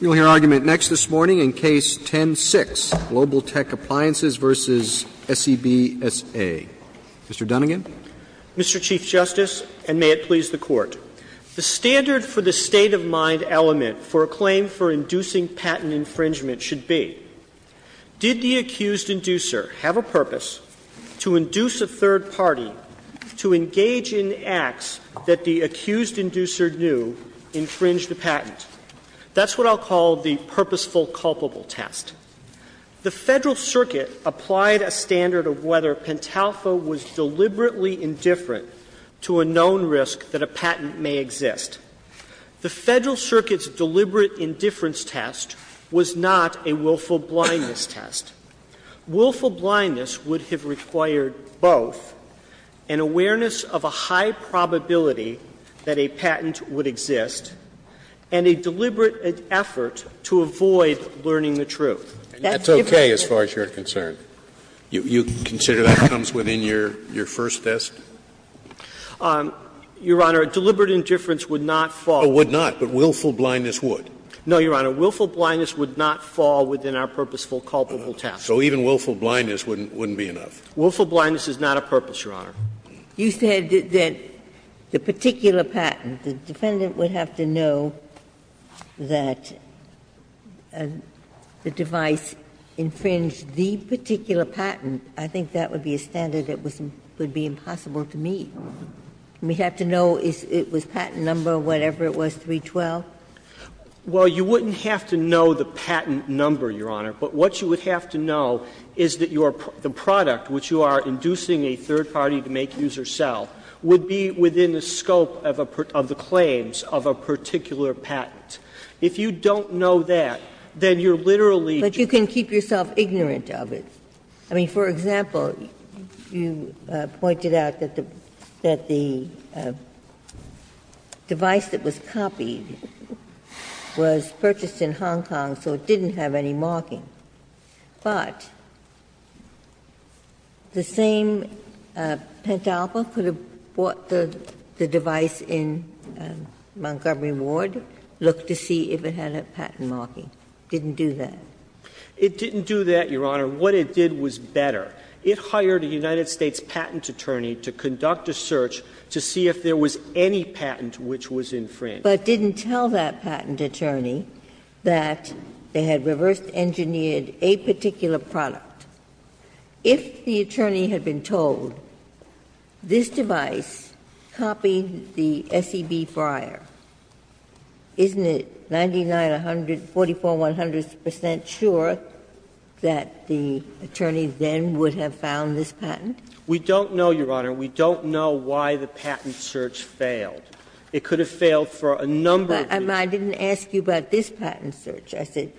We will hear argument next this morning in Case 10-6, Global-Tech Appliances v. SEB S.A. Mr. Dunnegan? Mr. Chief Justice, and may it please the Court, the standard for the state-of-mind element for a claim for inducing patent infringement should be did the accused inducer have a purpose to induce a third party to engage in acts that the accused inducer knew to infringe the patent? That's what I'll call the purposeful culpable test. The Federal Circuit applied a standard of whether Pentalfa was deliberately indifferent to a known risk that a patent may exist. The Federal Circuit's deliberate indifference test was not a willful blindness test. Willful blindness would have required both an awareness of a high probability that a patent would exist and a deliberate effort to avoid learning the truth. And that's okay as far as you're concerned? You consider that comes within your first test? Your Honor, deliberate indifference would not fall. It would not, but willful blindness would? No, Your Honor. Willful blindness would not fall within our purposeful culpable test. So even willful blindness wouldn't be enough? Willful blindness is not a purpose, Your Honor. You said that the particular patent, the defendant would have to know that the device infringed the particular patent. I think that would be a standard that would be impossible to meet. We'd have to know if it was patent number, whatever it was, 312? Well, you wouldn't have to know the patent number, Your Honor. But what you would have to know is that the product, which you are inducing a third party to make use or sell, would be within the scope of the claims of a particular patent. If you don't know that, then you're literally just But you can keep yourself ignorant of it. I mean, for example, you pointed out that the device that was copied was purchased in Hong Kong, so it didn't have any marking. But the same pent-alpha could have bought the device in Montgomery Ward, looked to see if it had a patent marking. It didn't do that. It didn't do that, Your Honor. What it did was better. It hired a United States patent attorney to conduct a search to see if there was any patent which was infringed. But didn't tell that patent attorney that they had reverse-engineered a particular product. If the attorney had been told, this device copied the SEB Friar, isn't it 99, 100, 44, 100 percent sure that the attorney then would have found this patent? We don't know, Your Honor. We don't know why the patent search failed. It could have failed for a number of reasons. But I didn't ask you about this patent search. I said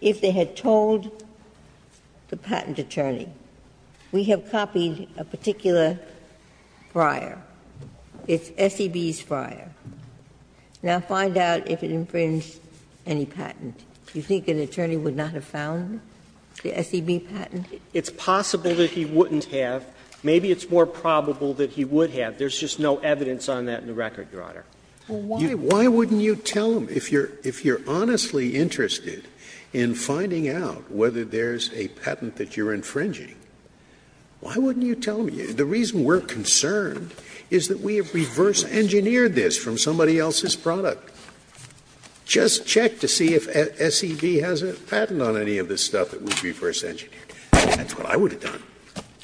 if they had told the patent attorney, we have copied a particular Friar. It's SEB's Friar. Now, find out if it infringed any patent. Do you think an attorney would not have found the SEB patent? It's possible that he wouldn't have. Maybe it's more probable that he would have. There's just no evidence on that in the record, Your Honor. Scalia, why wouldn't you tell him, if you're honestly interested in finding out whether there's a patent that you're infringing, why wouldn't you tell him, the reason we're concerned is that we have reverse-engineered this from somebody else's product. Just check to see if SEB has a patent on any of this stuff that was reverse-engineered. That's what I would have done.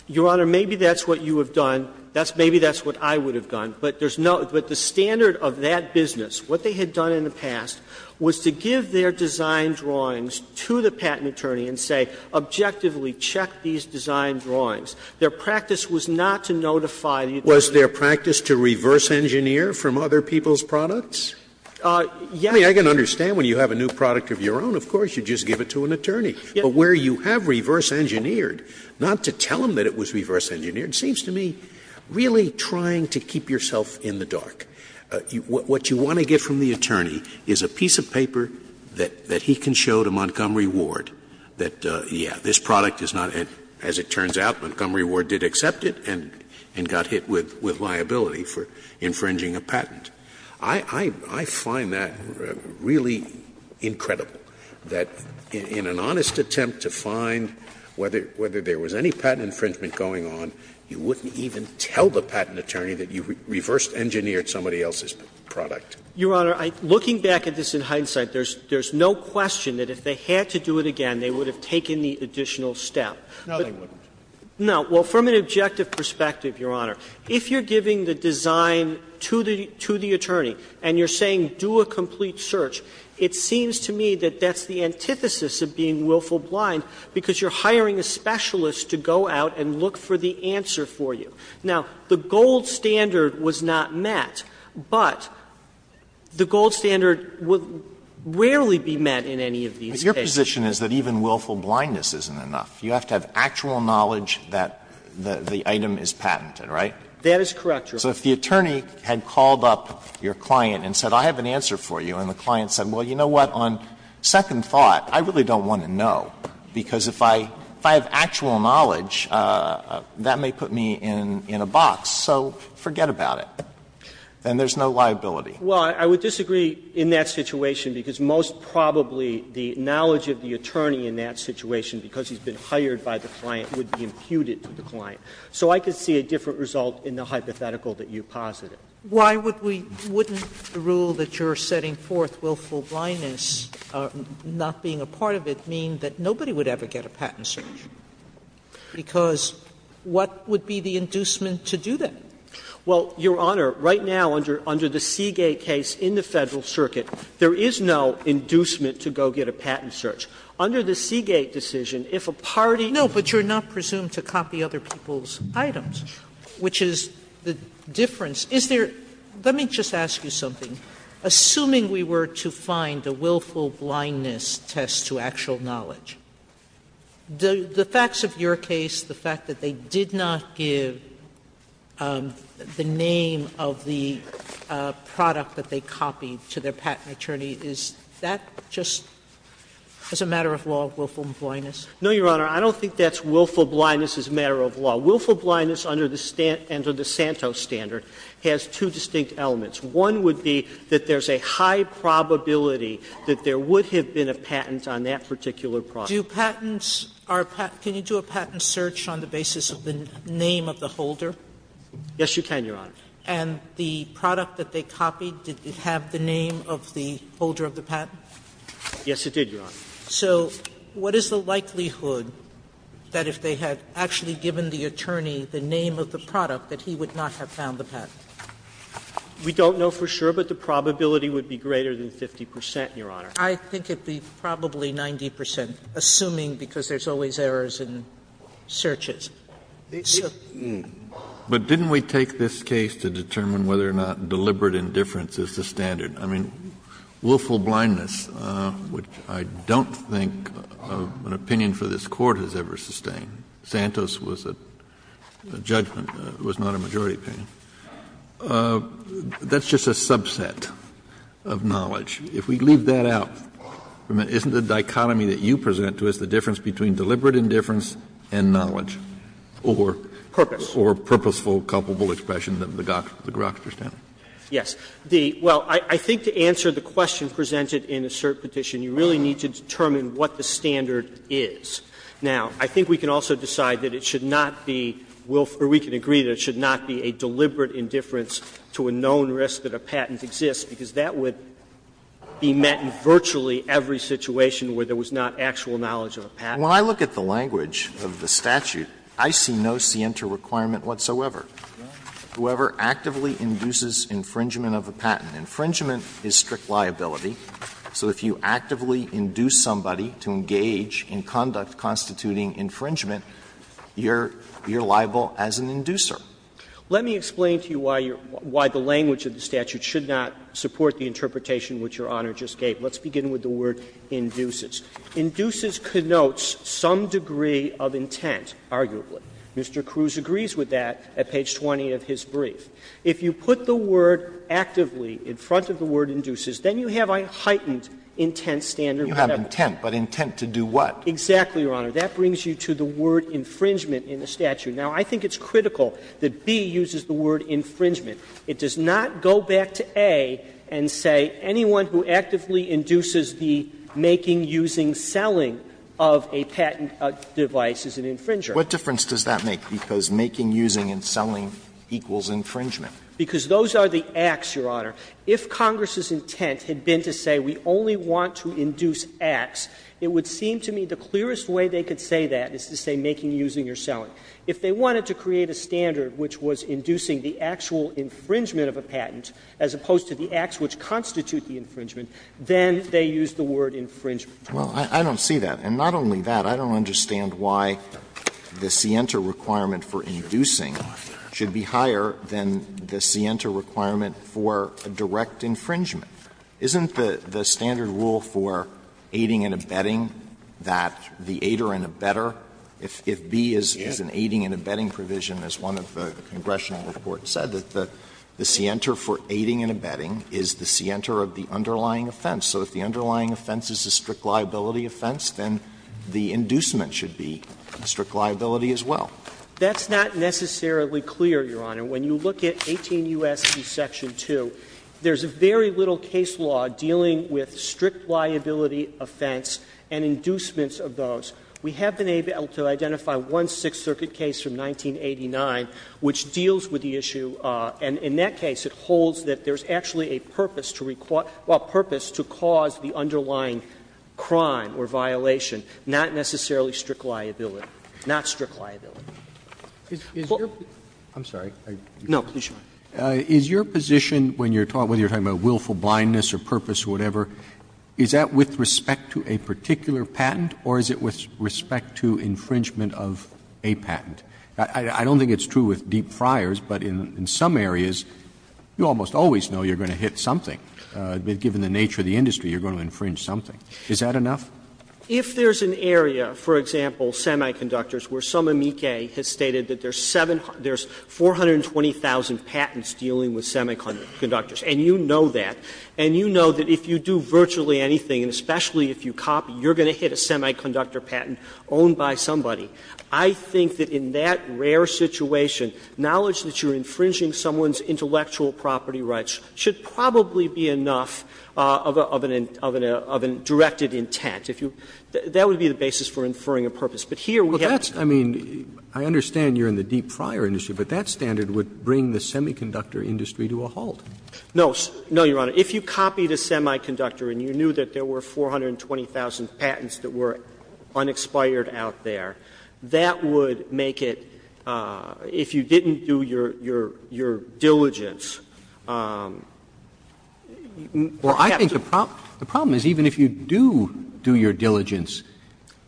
Your Honor, maybe that's what you have done, maybe that's what I would have done. But there's no – but the standard of that business, what they had done in the past, was to give their design drawings to the patent attorney and say, objectively check these design drawings. Their practice was not to notify the attorney. Scalia was their practice to reverse-engineer from other people's products? I mean, I can understand when you have a new product of your own, of course, you just give it to an attorney. But where you have reverse-engineered, not to tell him that it was reverse-engineered, seems to me really trying to keep yourself in the dark. What you want to get from the attorney is a piece of paper that he can show to Montgomery Ward that, yes, this product is not, as it turns out, Montgomery Ward did accept it and got hit with liability for infringing a patent. I find that really incredible, that in an honest attempt to find whether there was any patent infringement going on, you wouldn't even tell the patent attorney that you reverse-engineered somebody else's product. Your Honor, looking back at this in hindsight, there's no question that if they had to do it again, they would have taken the additional step. No, they wouldn't. No. Well, from an objective perspective, Your Honor, if you're giving the design to the attorney and you're saying do a complete search, it seems to me that that's the antithesis of being willful blind, because you're hiring a specialist to go out and look for the answer for you. Now, the gold standard was not met, but the gold standard will rarely be met in any of these cases. Alitoso, Your position is that even willful blindness isn't enough. You have to have actual knowledge that the item is patented, right? That is correct, Your Honor. So if the attorney had called up your client and said I have an answer for you, and the client said, well, you know what, on second thought, I really don't want to know, because if I have actual knowledge, that may put me in a box, so forget about it. Then there's no liability. Well, I would disagree in that situation, because most probably the knowledge of the attorney in that situation, because he's been hired by the client, would be imputed to the client. So I could see a different result in the hypothetical that you posited. Sotomayor, why would we – wouldn't the rule that you're setting forth, willful blindness, not being a part of it, mean that nobody would ever get a patent search? Because what would be the inducement to do that? Well, Your Honor, right now under the Seagate case in the Federal Circuit, there is no inducement to go get a patent search. Under the Seagate decision, if a party – Sotomayor, but you're not presumed to copy other people's items, which is the difference. Is there – let me just ask you something. Assuming we were to find a willful blindness test to actual knowledge, the facts of your case, the fact that they did not give the name of the product that they copied to their patent attorney, is that just as a matter of law, willful blindness? No, Your Honor. I don't think that's willful blindness as a matter of law. Willful blindness under the Santos standard has two distinct elements. One would be that there's a high probability that there would have been a patent on that particular product. Do patents – can you do a patent search on the basis of the name of the holder? Yes, you can, Your Honor. And the product that they copied, did it have the name of the holder of the patent? Yes, it did, Your Honor. So what is the likelihood that if they had actually given the attorney the name of the product, that he would not have found the patent? We don't know for sure, but the probability would be greater than 50 percent, Your Honor. I think it would be probably 90 percent, assuming because there's always errors in searches. Kennedy, but didn't we take this case to determine whether or not deliberate indifference is the standard? I mean, willful blindness, which I don't think an opinion for this Court has ever sustained, Santos was a judgment, it was not a majority opinion. That's just a subset of knowledge. If we leave that out, isn't the dichotomy that you present to us the difference between deliberate indifference and knowledge? Or purposeful, culpable expression than the Grokster standard? Yes. Well, I think to answer the question presented in a cert petition, you really need to determine what the standard is. Now, I think we can also decide that it should not be willful or we can agree that it should not be a deliberate indifference to a known risk that a patent exists, because that would be met in virtually every situation where there was not actual knowledge of a patent. And when I look at the language of the statute, I see no scienter requirement whatsoever. Whoever actively induces infringement of a patent. Infringement is strict liability. So if you actively induce somebody to engage in conduct constituting infringement, you're liable as an inducer. Let me explain to you why the language of the statute should not support the interpretation which Your Honor just gave. Let's begin with the word induces. Induces connotes some degree of intent, arguably. Mr. Cruz agrees with that at page 20 of his brief. If you put the word actively in front of the word induces, then you have a heightened intent standard. You have intent, but intent to do what? Exactly, Your Honor. That brings you to the word infringement in the statute. Now, I think it's critical that B uses the word infringement. It does not go back to A and say anyone who actively induces the making, using, selling of a patent device is an infringer. What difference does that make? Because making, using, and selling equals infringement. Because those are the acts, Your Honor. If Congress's intent had been to say we only want to induce acts, it would seem to me the clearest way they could say that is to say making, using, or selling. If they wanted to create a standard which was inducing the actual infringement of a patent, as opposed to the acts which constitute the infringement, then they used the word infringement. Alito, I don't see that. And not only that, I don't understand why the scienter requirement for inducing should be higher than the scienter requirement for a direct infringement. Isn't the standard rule for aiding and abetting that the aider and abetter, if B is an aiding and abetting provision, as one of the congressional reports said, that the scienter for aiding and abetting is the scienter of the underlying offense? So if the underlying offense is a strict liability offense, then the inducement should be strict liability as well. That's not necessarily clear, Your Honor. When you look at 18 U.S.C. section 2, there's very little case law dealing with strict liability offense and inducements of those. We have been able to identify one Sixth Circuit case from 1989 which deals with the issue, and in that case it holds that there's actually a purpose to cause the underlying crime or violation, not necessarily strict liability, not strict liability. Roberts, is your position when you're talking about willful blindness or purpose or whatever, is that with respect to a particular patent or is it with respect to infringement of a patent? I don't think it's true with deep friars, but in some areas you almost always know you're going to hit something. Given the nature of the industry, you're going to infringe something. Is that enough? If there's an area, for example, semiconductors, where some amici has stated that there's 720,000 patents dealing with semiconductors, and you know that, and you know that if you do virtually anything, and especially if you copy, you're going to hit a semiconductor patent owned by somebody, I think that in that rare situation, knowledge that you're infringing someone's intellectual property rights should probably be enough of an intent, of a directed intent. If you – that would be the basis for inferring a purpose. But here we have to. Roberts, I mean, I understand you're in the deep friar industry, but that standard would bring the semiconductor industry to a halt. No, no, Your Honor. If you copied a semiconductor and you knew that there were 420,000 patents that were unexpired out there, that would make it – if you didn't do your – your diligence. Roberts, I think the problem is even if you do do your diligence,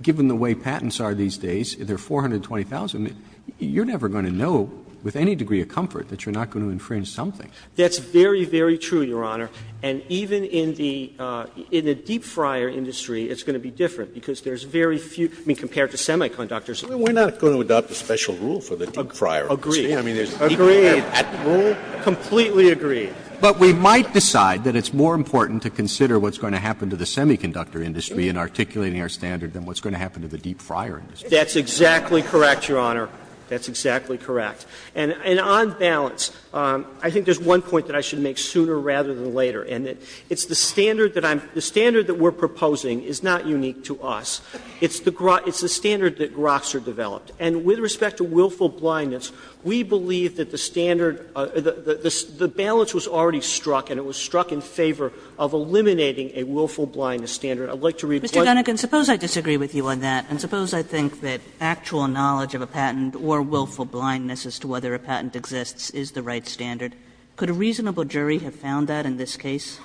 given the way patents are these days, there are 420,000, you're never going to know with any degree of comfort that you're not going to infringe something. That's very, very true, Your Honor. And even in the deep friar industry, it's going to be different, because there's very few – I mean, compared to semiconductors. Scalia, we're not going to adopt a special rule for the deep friar industry. I mean, there's a degree of patent rule. Completely agree. But we might decide that it's more important to consider what's going to happen to the semiconductor industry in articulating our standard than what's going to happen to the deep friar industry. That's exactly correct, Your Honor. That's exactly correct. And on balance, I think there's one point that I should make sooner rather than later and it's the standard that I'm – the standard that we're proposing is not unique to us. It's the standard that Grokcer developed. And with respect to willful blindness, we believe that the standard – the balance was already struck and it was struck in favor of eliminating a willful blindness I'd like to read what you said. Kagan, suppose I disagree with you on that, and suppose I think that actual knowledge of a patent or willful blindness as to whether a patent exists is the right standard. Could a reasonable jury have found that in this case?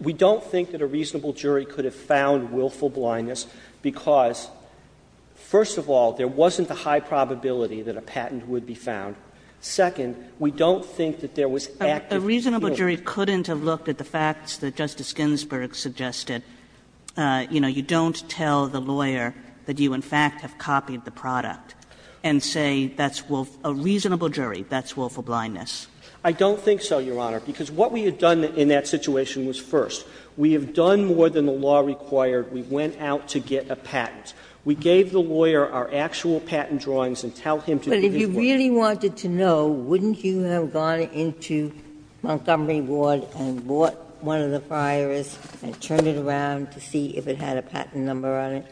We don't think that a reasonable jury could have found willful blindness because, first of all, there wasn't the high probability that a patent would be found. Second, we don't think that there was active appeal. A reasonable jury couldn't have looked at the facts that Justice Ginsburg suggested. You know, you don't tell the lawyer that you in fact have copied the product and say that's a reasonable jury, that's willful blindness. I don't think so, Your Honor, because what we had done in that situation was, first, we have done more than the law required. We went out to get a patent. We gave the lawyer our actual patent drawings and tell him to do his work. But if you really wanted to know, wouldn't you have gone into Montgomery Ward and bought one of the friars and turned it around to see if it had a patent number on it?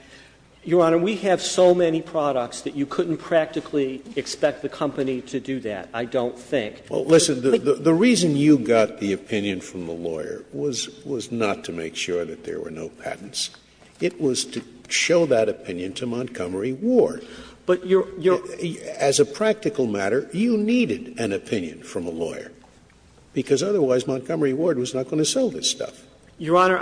Your Honor, we have so many products that you couldn't practically expect the company to do that, I don't think. Well, listen, the reason you got the opinion from the lawyer was not to make sure that there were no patents. It was to show that opinion to Montgomery Ward. But Your Honor, I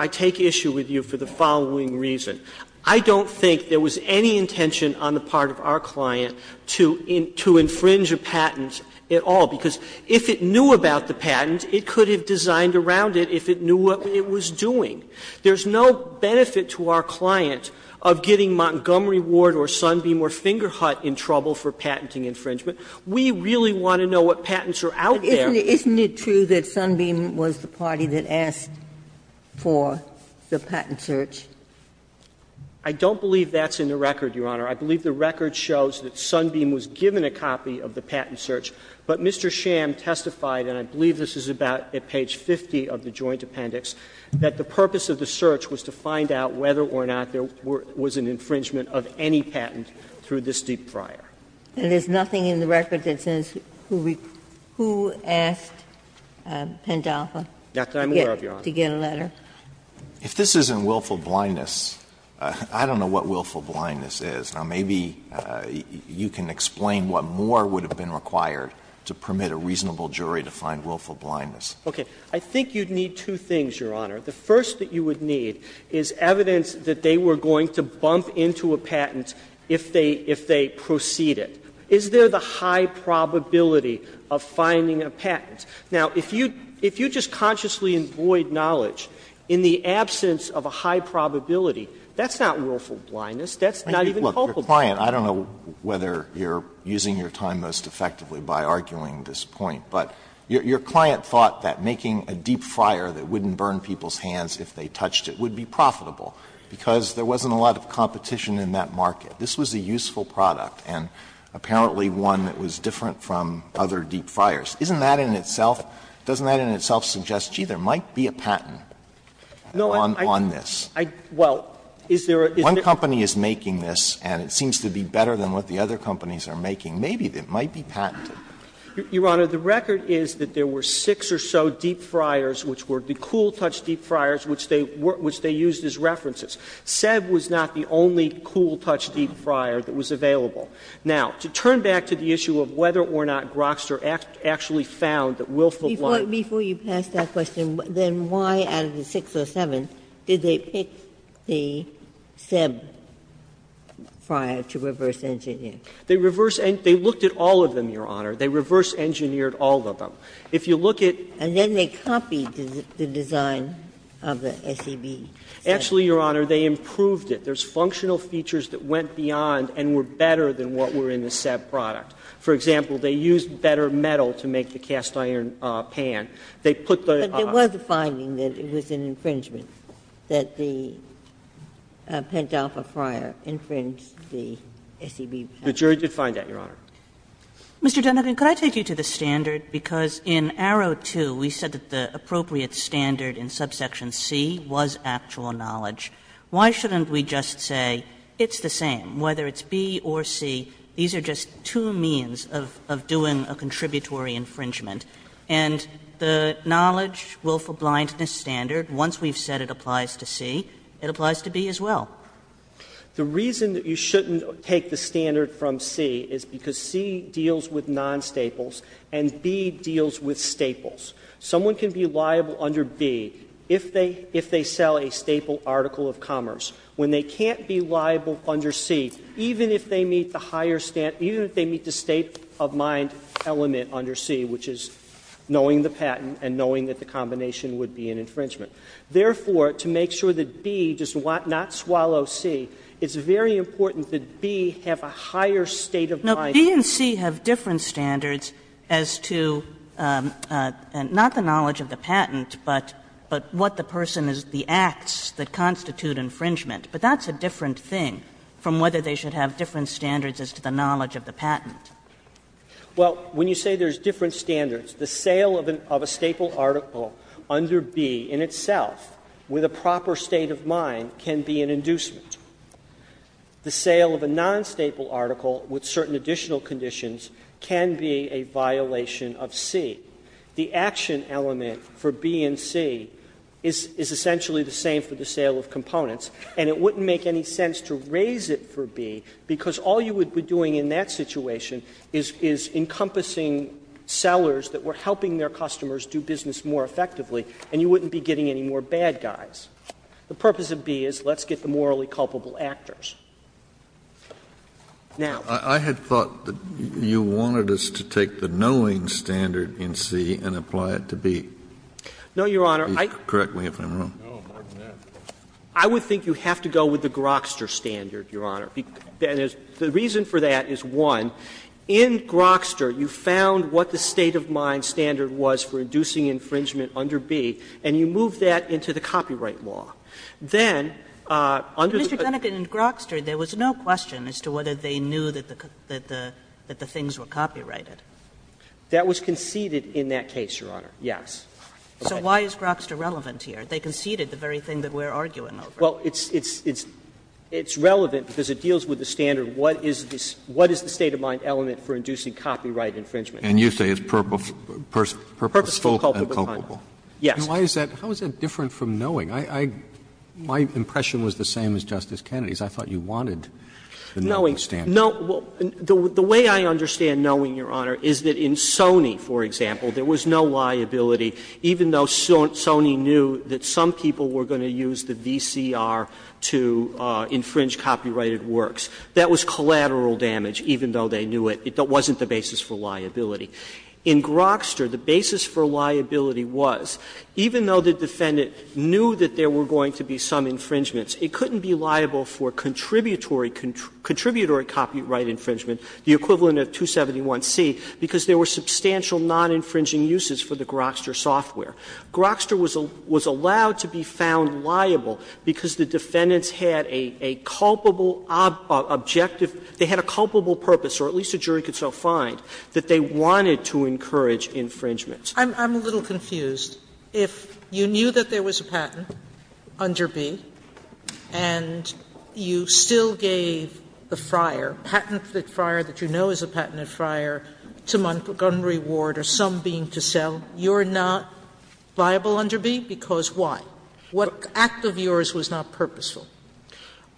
take issue with you for the following reason. I don't think there was any intention on the part of our client to infringe a patent at all, because if it knew about the patent, it could have designed around it if it knew what it was doing. There's no benefit to our client of getting Montgomery Ward or Sunbeam or Fingerhut in trouble for patenting infringement. We really want to know what patents are out there. Isn't it true that Sunbeam was the party that asked for the patent search? I don't believe that's in the record, Your Honor. I believe the record shows that Sunbeam was given a copy of the patent search, but Mr. Sham testified, and I believe this is about at page 50 of the joint appendix, that the purpose of the search was to find out whether or not there was an infringement of any patent through this deep fryer. And there's nothing in the record that says who asked Pendalfa to get a letter? If this isn't willful blindness, I don't know what willful blindness is. Now, maybe you can explain what more would have been required to permit a reasonable jury to find willful blindness. Okay. I think you'd need two things, Your Honor. The first that you would need is evidence that they were going to bump into a patent if they proceed it. Is there the high probability of finding a patent? Now, if you just consciously avoid knowledge in the absence of a high probability, that's not willful blindness. That's not even helpful. Alito, your client, I don't know whether you're using your time most effectively by arguing this point, but your client thought that making a deep fryer that wouldn't burn people's hands if they touched it would be profitable, because there wasn't a lot of competition in that market. This was a useful product and apparently one that was different from other deep fryers. Isn't that in itself, doesn't that in itself suggest, gee, there might be a patent on this? One company is making this and it seems to be better than what the other companies are making. Maybe it might be patented. Your Honor, the record is that there were six or so deep fryers which were the cool touch deep fryers which they used as references. Seb was not the only cool touch deep fryer that was available. Now, to turn back to the issue of whether or not Grokster actually found that willful blindness. Ginsburg-Miller Before you pass that question, then why, out of the six or seven, did they pick the Seb fryer to reverse engineer? They reverse engineered all of them, Your Honor. They reverse engineered all of them. If you look at. Ginsburg-Miller And then they copied the design of the SEB. Actually, Your Honor, they improved it. There's functional features that went beyond and were better than what were in the Seb product. For example, they used better metal to make the cast iron pan. They put the. Ginsburg-Miller But there was a finding that it was an infringement, that the Pentalpha fryer infringed the SEB product. Gershengorn The jury did find that, Your Honor. Kagan Mr. Dunnegan, could I take you to the standard? Because in Arrow 2, we said that the appropriate standard in subsection C was actual knowledge. Why shouldn't we just say it's the same, whether it's B or C, these are just two means of doing a contributory infringement? And the knowledge willful blindness standard, once we've said it applies to C, it applies to B as well. Dunnegan The reason that you shouldn't take the standard from C is because C deals with non-staples and B deals with staples. Someone can be liable under B if they sell a staple article of commerce. When they can't be liable under C, even if they meet the higher standard, even if they meet the state of mind element under C, which is knowing the patent and knowing that the combination would be an infringement. Therefore, to make sure that B does not swallow C, it's very important that B have a higher state of mind. Kagan No. B and C have different standards as to not the knowledge of the patent, but what the person is, the acts that constitute infringement. But that's a different thing from whether they should have different standards as to the knowledge of the patent. Dunnegan Well, when you say there's different standards, the sale of a staple article under B in itself, with a proper state of mind, can be an inducement. The sale of a non-staple article with certain additional conditions can be a violation of C. The action element for B and C is essentially the same for the sale of components. And it wouldn't make any sense to raise it for B, because all you would be doing in that situation is encompassing sellers that were helping their customers do business more effectively, and you wouldn't be getting any more bad guys. The purpose of B is let's get the morally culpable actors. Now. Kennedy I had thought that you wanted us to take the knowing standard in C and apply it to B. Dunnegan No, Your Honor. Kennedy Correct me if I'm wrong. Scalia No, more than that. Dunnegan I would think you have to go with the Grokster standard, Your Honor. The reason for that is, one, in Grokster you found what the state of mind standard was for inducing infringement under B, and you moved that into the copyright law. Then under the other law, there was no question as to whether they knew that the things were copyrighted. Dunnegan That was conceded in that case, Your Honor. Yes. Kagan So why is Grokster relevant here? They conceded the very thing that we're arguing over. Dunnegan Well, it's relevant because it deals with the standard, what is the state of mind element for inducing copyright infringement? Kennedy And you say it's purposeful and culpable. Dunnegan Yes. Roberts How is that different from knowing? My impression was the same as Justice Kennedy's. I thought you wanted the knowing standard. Dunnegan No. The way I understand knowing, Your Honor, is that in Sony, for example, there was no liability, even though Sony knew that some people were going to use the VCR to infringe copyrighted works. That was collateral damage, even though they knew it wasn't the basis for liability. In Grokster, the basis for liability was, even though the defendant knew that there were going to be some infringements, it couldn't be liable for contributory copyright infringement, the equivalent of 271C, because there were substantial non-infringing uses for the Grokster software. Grokster was allowed to be found liable because the defendants had a culpable objective, they had a culpable purpose, or at least a jury could so find, that they wanted to encourage infringement. Sotomayor I'm a little confused. If you knew that there was a patent under B and you still gave the friar, patented friar that you know is a patented friar, to Montgomery Ward or some bean to sell, you're not liable under B because why? What act of yours was not purposeful?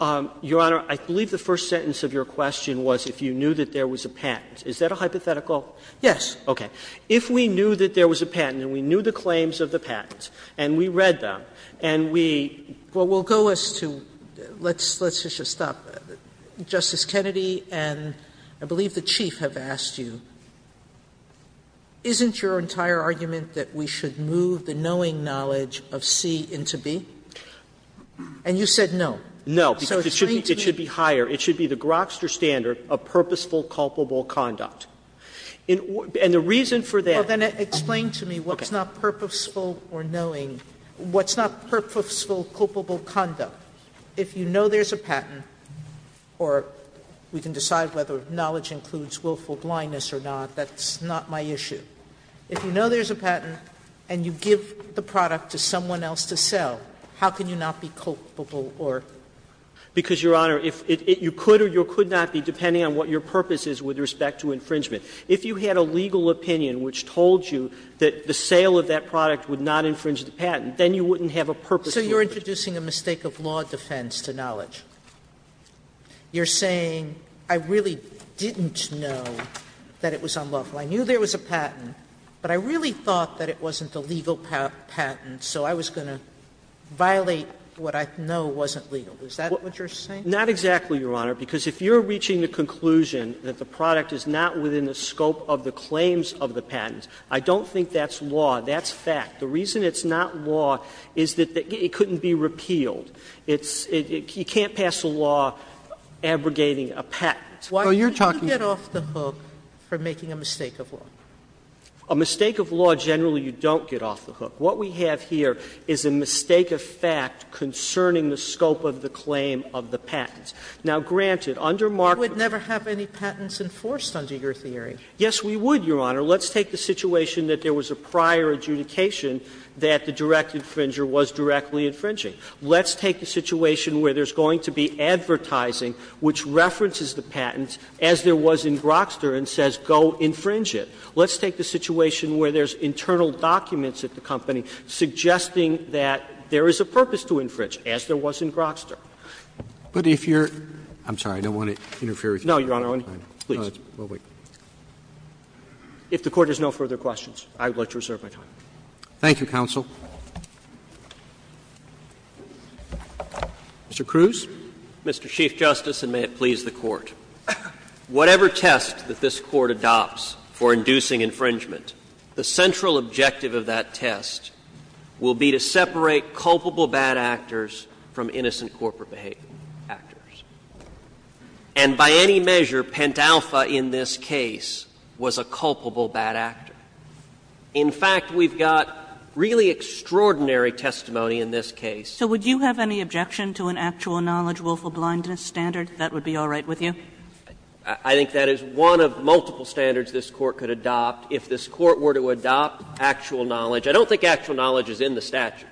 Dunnegan Your Honor, I believe the first sentence of your question was if you knew that there was a patent. Is that a hypothetical? Sotomayor Yes. Dunnegan Okay. If we knew that there was a patent and we knew the claims of the patent and we read them and we. Sotomayor Well, we'll go as to, let's just stop. Justice Kennedy and I believe the Chief have asked you, isn't your entire argument that we should move the knowing knowledge of C into B? And you said no. Dunnegan No, because it should be higher. It should be the Grokster standard of purposeful culpable conduct. And the reason for that. Sotomayor Well, then explain to me what's not purposeful or knowing, what's not purposeful culpable conduct. If you know there's a patent or we can decide whether knowledge includes willful blindness or not, that's not my issue. If you know there's a patent and you give the product to someone else to sell, how can you not be culpable or? Dunnegan Because, Your Honor, you could or you could not be, depending on what your purpose is with respect to infringement. If you had a legal opinion which told you that the sale of that product would not infringe the patent, then you wouldn't have a purposeful infringement. Sotomayor So you're introducing a mistake of law defense to knowledge. You're saying, I really didn't know that it was unlawful. I knew there was a patent, but I really thought that it wasn't a legal patent, so I was going to violate what I know wasn't legal. Is that what you're saying? Dunnegan Not exactly, Your Honor, because if you're reaching the conclusion that the product is not within the scope of the claims of the patent, I don't think that's law. That's fact. The reason it's not law is that it couldn't be repealed. It's you can't pass a law abrogating a patent. Sotomayor So you're talking about Sotomayor Why don't you get off the hook for making a mistake of law? What we have here is a mistake of fact concerning the scope of the claim of the patent. Now, granted, under Markov Sotomayor You would never have any patents enforced under your theory. Dunnegan Yes, we would, Your Honor. Let's take the situation that there was a prior adjudication that the direct infringer was directly infringing. Let's take the situation where there's going to be advertising which references the patent, as there was in Grokster, and says go infringe it. Let's take the situation where there's internal documents at the company suggesting that there is a purpose to infringe, as there was in Grokster. Roberts I'm sorry, I don't want to interfere with your time. Dunnegan No, Your Honor, I want to, please. If the Court has no further questions, I would like to reserve my time. Roberts Thank you, counsel. Mr. Cruz. Cruz Mr. Chief Justice, and may it please the Court. Whatever test that this Court adopts for inducing infringement, the central objective of that test will be to separate culpable bad actors from innocent corporate behavior actors. And by any measure, Pentalpha in this case was a culpable bad actor. In fact, we've got really extraordinary testimony in this case. Kagan So would you have any objection to an actual knowledge rule for blindness standard? That would be all right with you? Cruz I think that is one of multiple standards this Court could adopt. If this Court were to adopt actual knowledge, I don't think actual knowledge is in the statute,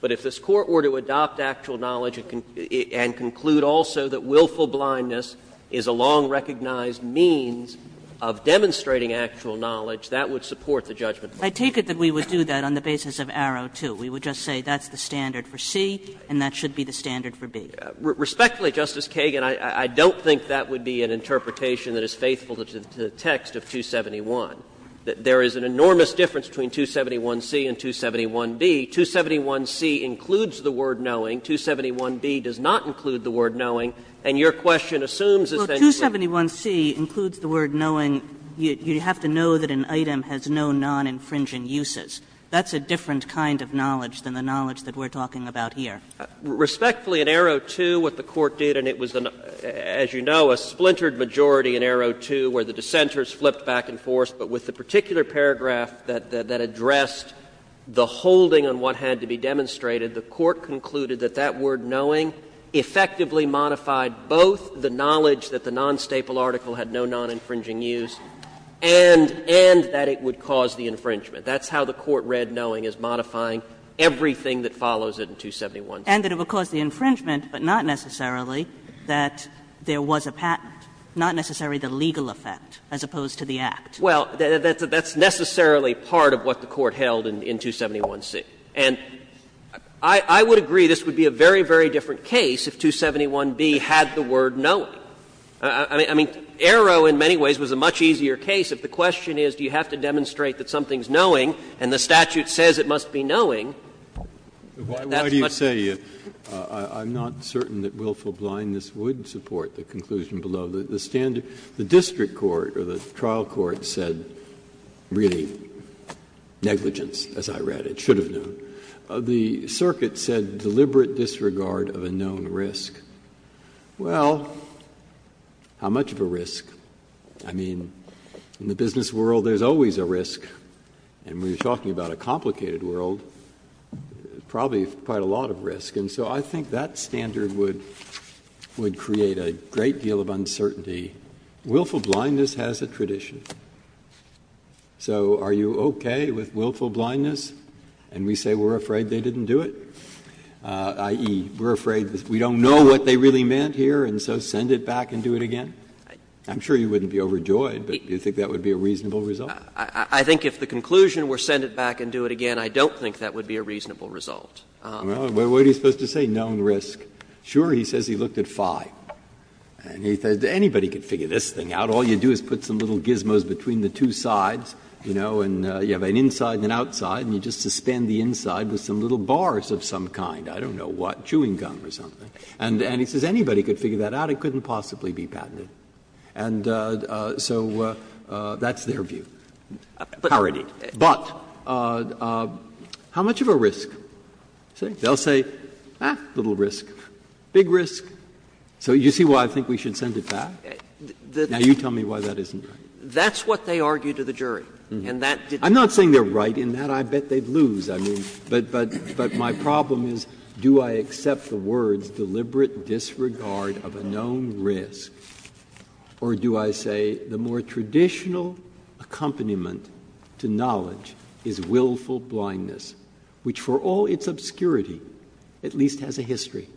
but if this Court were to adopt actual knowledge and conclude also that willful blindness is a long recognized means of demonstrating actual knowledge, that would support the judgment. Kagan I take it that we would do that on the basis of Arrow, too. We would just say that's the standard for C and that should be the standard for B. Cruz Respectfully, Justice Kagan, I don't think that would be an interpretation that is faithful to the text of 271. There is an enormous difference between 271C and 271B. 271C includes the word knowing. 271B does not include the word knowing. And your question assumes essentially that Kagan Well, 271C includes the word knowing. You have to know that an item has no non-infringing uses. That's a different kind of knowledge than the knowledge that we're talking about here. Respectfully, in Arrow, too, what the Court did, and it was, as you know, a splintered majority in Arrow, too, where the dissenters flipped back and forth, but with the particular paragraph that addressed the holding on what had to be demonstrated, the Court concluded that that word knowing effectively modified both the knowledge that the non-staple article had no non-infringing use and that it would cause the infringement. That's how the Court read knowing as modifying everything that follows it in 271C. And that it would cause the infringement, but not necessarily that there was a patent, not necessarily the legal effect as opposed to the act. Well, that's necessarily part of what the Court held in 271C. And I would agree this would be a very, very different case if 271B had the word knowing. I mean, Arrow in many ways was a much easier case. If the question is do you have to demonstrate that something's knowing and the statute says it must be knowing, that's much easier. Breyer, I would say I'm not certain that willful blindness would support the conclusion below the standard. The district court or the trial court said really negligence, as I read. It should have known. The circuit said deliberate disregard of a known risk. Well, how much of a risk? I mean, in the business world there's always a risk, and we're talking about a complicated world, probably quite a lot of risk. And so I think that standard would create a great deal of uncertainty. Willful blindness has a tradition. So are you okay with willful blindness? And we say we're afraid they didn't do it, i.e., we're afraid we don't know what they really meant here, and so send it back and do it again? I'm sure you wouldn't be overjoyed, but do you think that would be a reasonable result? I think if the conclusion were send it back and do it again, I don't think that would be a reasonable result. Breyer, what are you supposed to say, known risk? Sure, he says he looked at five, and he said anybody could figure this thing out. All you do is put some little gizmos between the two sides, you know, and you have an inside and an outside, and you just suspend the inside with some little bars of some kind, I don't know what, chewing gum or something. And he says anybody could figure that out. It couldn't possibly be patented. And so that's their view. Parody. But how much of a risk? They'll say, ah, little risk, big risk. So you see why I think we should send it back? Now you tell me why that isn't right. That's what they argue to the jury. And that didn't do it. I'm not saying they're right in that. I bet they'd lose. I mean, but my problem is, do I accept the words deliberate disregard of a known risk, or do I say the more traditional accompaniment to knowledge is willful blindness, which for all its obscurity at least has a history?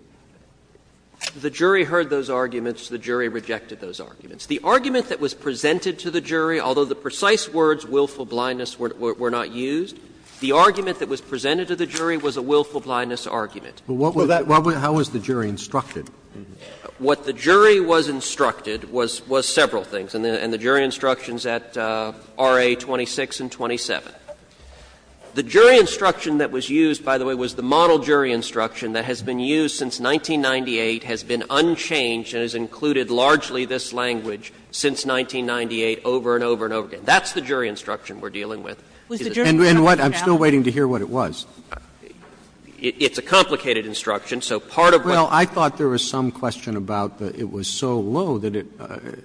The jury heard those arguments. The jury rejected those arguments. The argument that was presented to the jury, although the precise words willful blindness were not used, the argument that was presented to the jury was a willful blindness argument. But what was that – how was the jury instructed? What the jury was instructed was several things. And the jury instructions at R.A. 26 and 27. The jury instruction that was used, by the way, was the model jury instruction that has been used since 1998, has been unchanged, and has included largely this language since 1998 over and over and over again. That's the jury instruction we're dealing with. And what – I'm still waiting to hear what it was. It's a complicated instruction, so part of what – Well, I thought there was some question about that it was so low that it,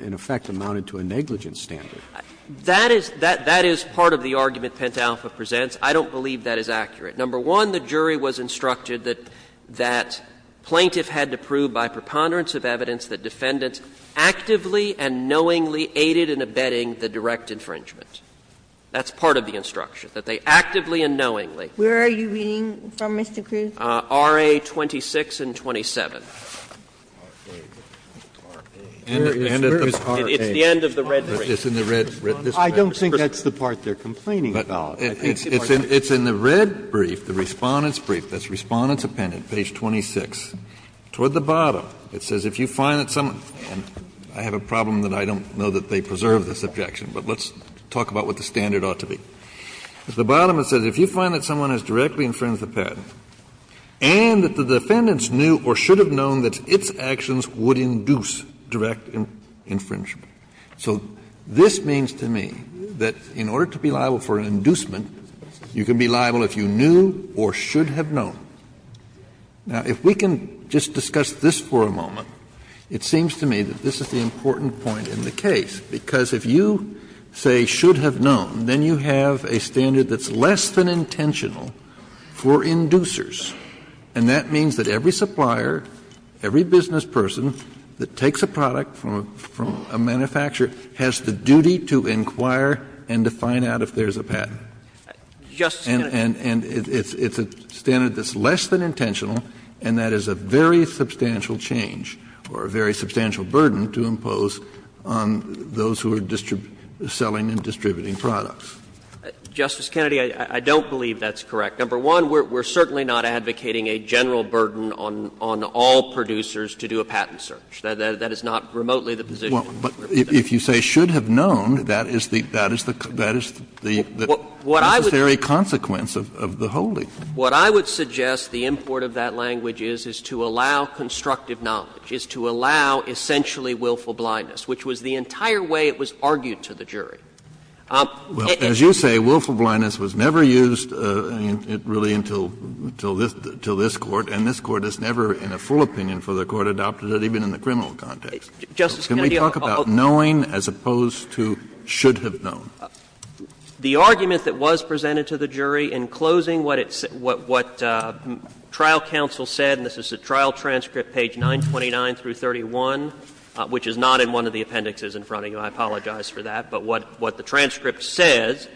in effect, amounted to a negligence standard. That is – that is part of the argument Pent Alpha presents. I don't believe that is accurate. Number one, the jury was instructed that plaintiff had to prove by preponderance of evidence that defendants actively and knowingly aided in abetting the direct infringement. That's part of the instruction, that they actively and knowingly. Where are you reading from, Mr. Cruz? RA 26 and 27. It's the end of the red brief. I don't think that's the part they're complaining about. It's in the red brief, the Respondent's brief, that's Respondent's appendant, page 26. Toward the bottom, it says, if you find that someone – and I have a problem that I don't know that they preserve this objection, but let's talk about what the standard ought to be. At the bottom, it says, if you find that someone has directly infringed the patent, and that the defendants knew or should have known that its actions would induce direct infringement. So this means to me that in order to be liable for an inducement, you can be liable if you knew or should have known. Now, if we can just discuss this for a moment, it seems to me that this is the important point in the case, because if you, say, should have known, then you have a standard that's less than intentional for inducers. And that means that every supplier, every business person that takes a product from a manufacturer has the duty to inquire and to find out if there's a patent. And it's a standard that's less than intentional, and that is a very substantial change or a very substantial burden to impose on those who are selling and distributing products. Justice Kennedy, I don't believe that's correct. Number one, we're certainly not advocating a general burden on all producers to do a patent search. That is not remotely the position. But if you say should have known, that is the necessary consequence of the holding. What I would suggest the import of that language is, is to allow constructive knowledge, is to allow essentially willful blindness, which was the entire way it was argued to the jury. Kennedy, as you say, willful blindness was never used, really, until this Court. And this Court has never, in a full opinion for the Court, adopted it even in the criminal context. Can we talk about knowing as opposed to should have known? The argument that was presented to the jury in closing what it's what trial counsel said, and this is the trial transcript, page 929 through 31, which is not in one of the appendixes in front of you, I apologize for that, but what the transcript says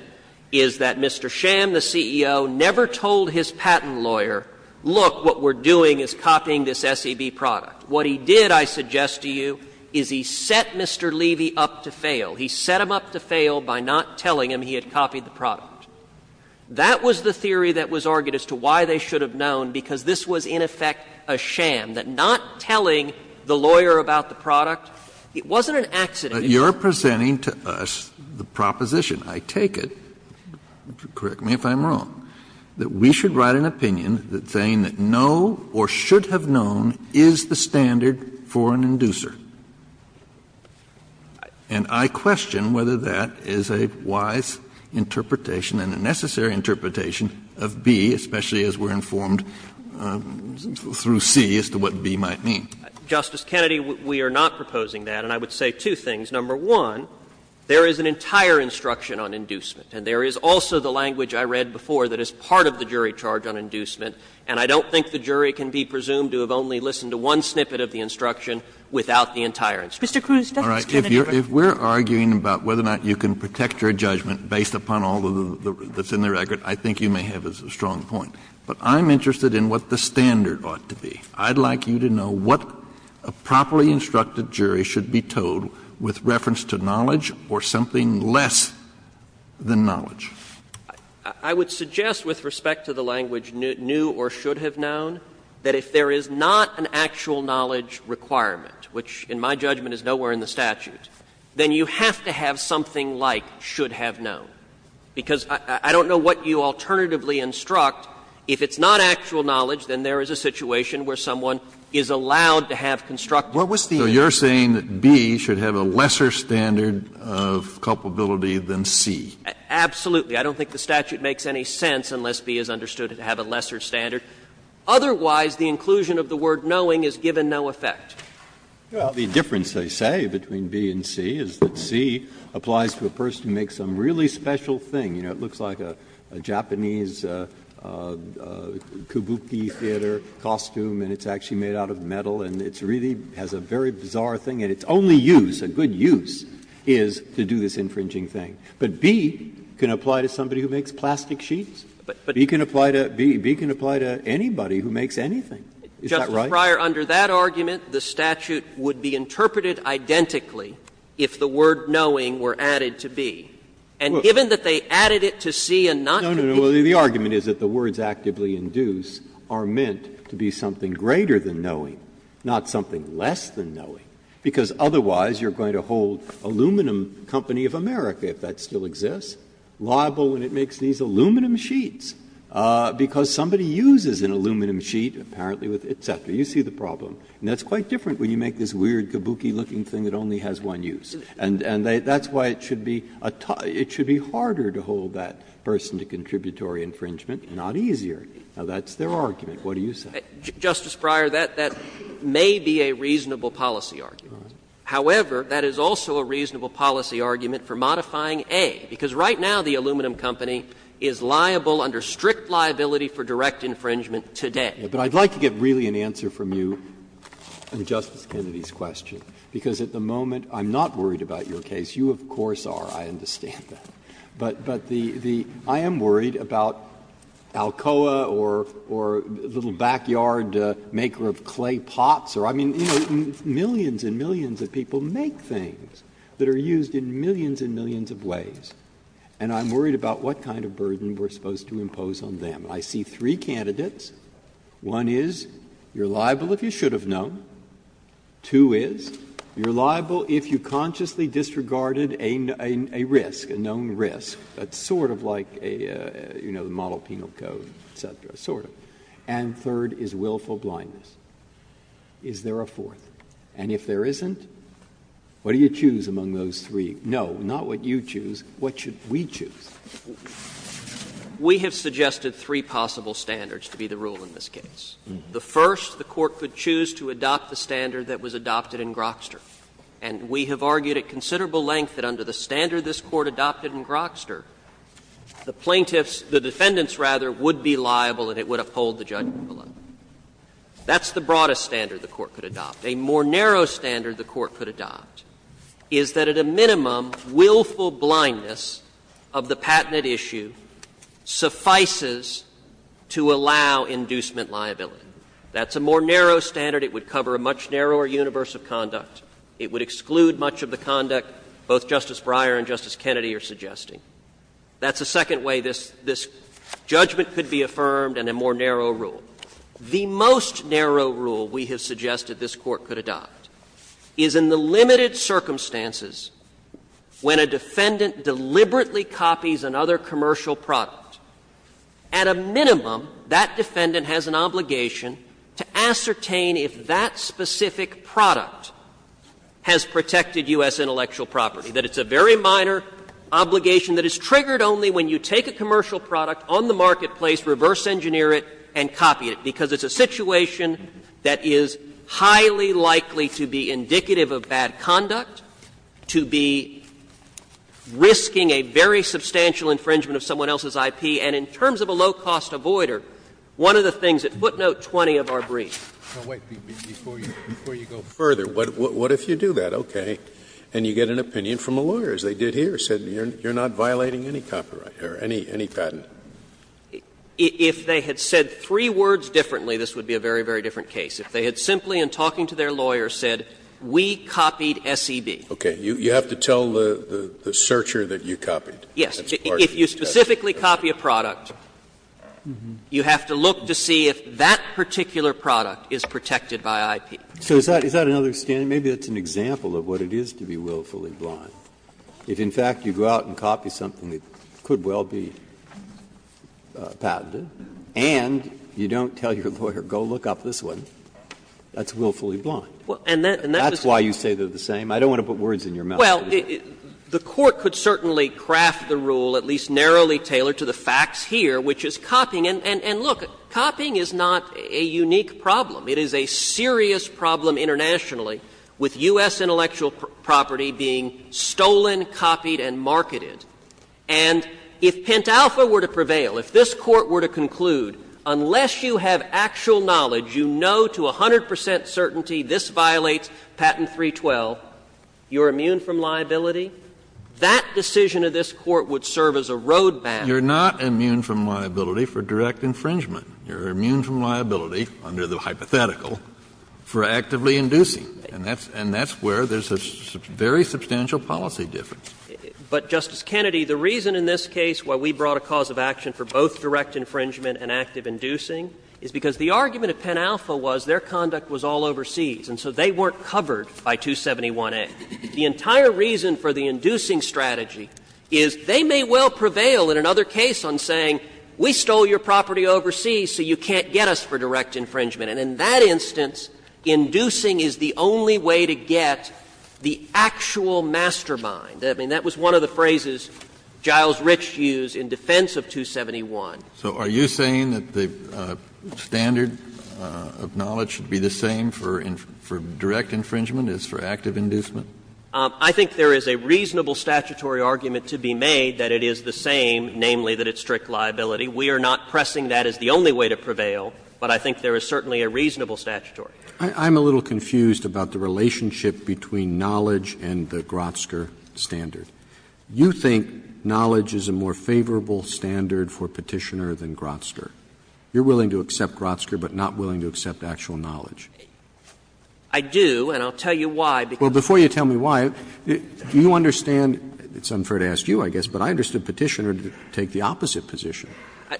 is that Mr. Sham, the CEO, never told his patent lawyer, look, what we're doing is copying this SEB product. What he did, I suggest to you, is he set Mr. Levy up to fail. He set him up to fail by not telling him he had copied the product. That was the theory that was argued as to why they should have known, because this was, in effect, a sham, that not telling the lawyer about the product. It wasn't an accident. Kennedy, we are not proposing that we should write an opinion that says no or should have known is the standard for an inducer. And I question whether that is a wise interpretation and a necessary interpretation of B, especially as we're informed through C as to what B might mean. Justice Kennedy, we are not proposing that. And I would say two things. Number one, there is an entire instruction on inducement, and there is also the language I read before that is part of the jury charge on inducement, and I don't think the jury can be presumed to have only listened to one snippet of the instruction without the entire instruction. Kennedy, I beg your pardon. Kennedy, if we're arguing about whether or not you can protect your judgment based upon all that's in the record, I think you may have a strong point. But I'm interested in what the standard ought to be. I'd like you to know what a properly instructed jury should be told with reference to knowledge or something less than knowledge. I would suggest with respect to the language new or should have known that if there is not an actual knowledge requirement, which in my judgment is nowhere in the statute, then you have to have something like should have known. Because I don't know what you alternatively instruct. If it's not actual knowledge, then there is a situation where someone is allowed to have constructive knowledge. Kennedy, so you're saying that B should have a lesser standard of culpability than C? Absolutely. I don't think the statute makes any sense unless B is understood to have a lesser standard. Otherwise, the inclusion of the word knowing is given no effect. Breyer, the difference, they say, between B and C is that C applies to a person who makes some really special thing. You know, it looks like a Japanese kabuki theater costume, and it's actually made out of metal, and it's really has a very bizarre thing. And its only use, a good use, is to do this infringing thing. But B can apply to somebody who makes plastic sheets. B can apply to anybody who makes anything. Is that right? Justice Breyer, under that argument, the statute would be interpreted identically if the word knowing were added to B. And given that they added it to C and not to B. Breyer, the argument is that the words actively induce are meant to be something greater than knowing, not something less than knowing, because otherwise you're going to hold Aluminum Company of America, if that still exists, liable when it makes these aluminum sheets, because somebody uses an aluminum sheet, apparently with et cetera. You see the problem. And that's quite different when you make this weird kabuki-looking thing that only has one use. And that's why it should be harder to hold that person to contributory infringement, not easier. Now, that's their argument. What do you say? Justice Breyer, that may be a reasonable policy argument. However, that is also a reasonable policy argument for modifying A, because right now the aluminum company is liable under strict liability for direct infringement today. But I'd like to get really an answer from you on Justice Kennedy's question, because at the moment I'm not worried about your case. You, of course, are. I understand that. But the — I am worried about Alcoa or little backyard maker of clay pots or, I mean, you know, millions and millions of people make things that are used in millions and millions of ways. And I'm worried about what kind of burden we're supposed to impose on them. I see three candidates. One is, you're liable if you should have known. Two is, you're liable if you consciously disregarded a risk, a known risk, that's sort of like a, you know, the model penal code, et cetera, sort of. And third is willful blindness. Is there a fourth? And if there isn't, what do you choose among those three? No, not what you choose. What should we choose? We have suggested three possible standards to be the rule in this case. The first, the Court could choose to adopt the standard that was adopted in Grokster. And we have argued at considerable length that under the standard this Court adopted in Grokster, the plaintiffs — the defendants, rather, would be liable and it would uphold the judgment below. That's the broadest standard the Court could adopt. A more narrow standard the Court could adopt is that at a minimum, willful blindness of the patented issue suffices to allow inducement liability. That's a more narrow standard. It would cover a much narrower universe of conduct. It would exclude much of the conduct both Justice Breyer and Justice Kennedy are suggesting. That's a second way this judgment could be affirmed and a more narrow rule. The most narrow rule we have suggested this Court could adopt is in the limited circumstances when a defendant deliberately copies another commercial product. At a minimum, that defendant has an obligation to ascertain if that specific product has protected U.S. intellectual property, that it's a very minor obligation that is triggered only when you take a commercial product on the marketplace, reverse engineer it, and copy it, because it's a situation that is highly likely to be indicative of bad conduct, to be risking a very substantial infringement of someone else's IP, and in terms of a low-cost avoider, one of the things that footnote 20 of our briefs. Scalia, before you go further, what if you do that, okay, and you get an opinion from a lawyer, as they did here, said you're not violating any copyright or any patent? If they had said three words differently, this would be a very, very different case. If they had simply, in talking to their lawyer, said, we copied SEB. Scalia, you have to tell the searcher that you copied. That's part of the test. Yes. If you specifically copy a product, you have to look to see if that particular product is protected by IP. So is that another standard? Maybe that's an example of what it is to be willfully blind. If, in fact, you go out and copy something that could well be patented, and you don't tell your lawyer, go look up this one, that's willfully blind. And that's why you say they're the same. I don't want to put words in your mouth. Well, the Court could certainly craft the rule, at least narrowly tailored to the facts here, which is copying. And look, copying is not a unique problem. It is a serious problem internationally, with U.S. intellectual property being stolen, copied, and marketed. And if Pentalpha were to prevail, if this Court were to conclude, unless you have actual knowledge, you know to 100 percent certainty this violates Patent 312, you're immune from liability, that decision of this Court would serve as a road map. You're not immune from liability for direct infringement. You're immune from liability, under the hypothetical, for actively inducing. And that's where there's a very substantial policy difference. But, Justice Kennedy, the reason in this case why we brought a cause of action for both direct infringement and active inducing is because the argument of Pentalpha was their conduct was all overseas, and so they weren't covered by 271A. The entire reason for the inducing strategy is they may well prevail in another case on saying, we stole your property overseas, so you can't get us for direct infringement. And in that instance, inducing is the only way to get the actual mastermind. I mean, that was one of the phrases Giles Rich used in defense of 271. So are you saying that the standard of knowledge should be the same for direct infringement as for active inducement? I think there is a reasonable statutory argument to be made that it is the same, namely that it's strict liability. We are not pressing that as the only way to prevail, but I think there is certainly a reasonable statutory. Roberts. I'm a little confused about the relationship between knowledge and the Grotzker standard. You think knowledge is a more favorable standard for Petitioner than Grotzker. You're willing to accept Grotzker, but not willing to accept actual knowledge. I do, and I'll tell you why. Well, before you tell me why, do you understand — it's unfair to ask you, I guess — but I understood Petitioner to take the opposite position,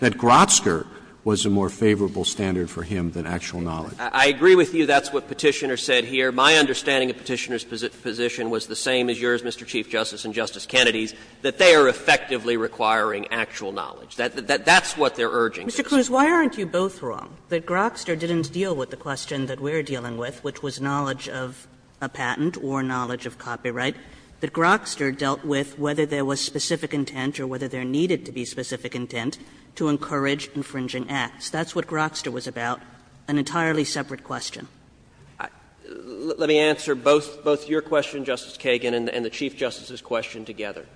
that Grotzker was a more favorable standard for him than actual knowledge. I agree with you that's what Petitioner said here. My understanding of Petitioner's position was the same as yours, Mr. Chief Justice, and Justice Kennedy's, that they are effectively requiring actual knowledge. That's what they're urging. Mr. Cruz, why aren't you both wrong, that Grotzker didn't deal with the question that we're dealing with, which was knowledge of a patent or knowledge of copyright, that Grotzker dealt with whether there was specific intent or whether there needed to be specific intent to encourage infringing acts. That's what Grotzker was about, an entirely separate question. Let me answer both your question, Justice Kagan, and the Chief Justice's question together.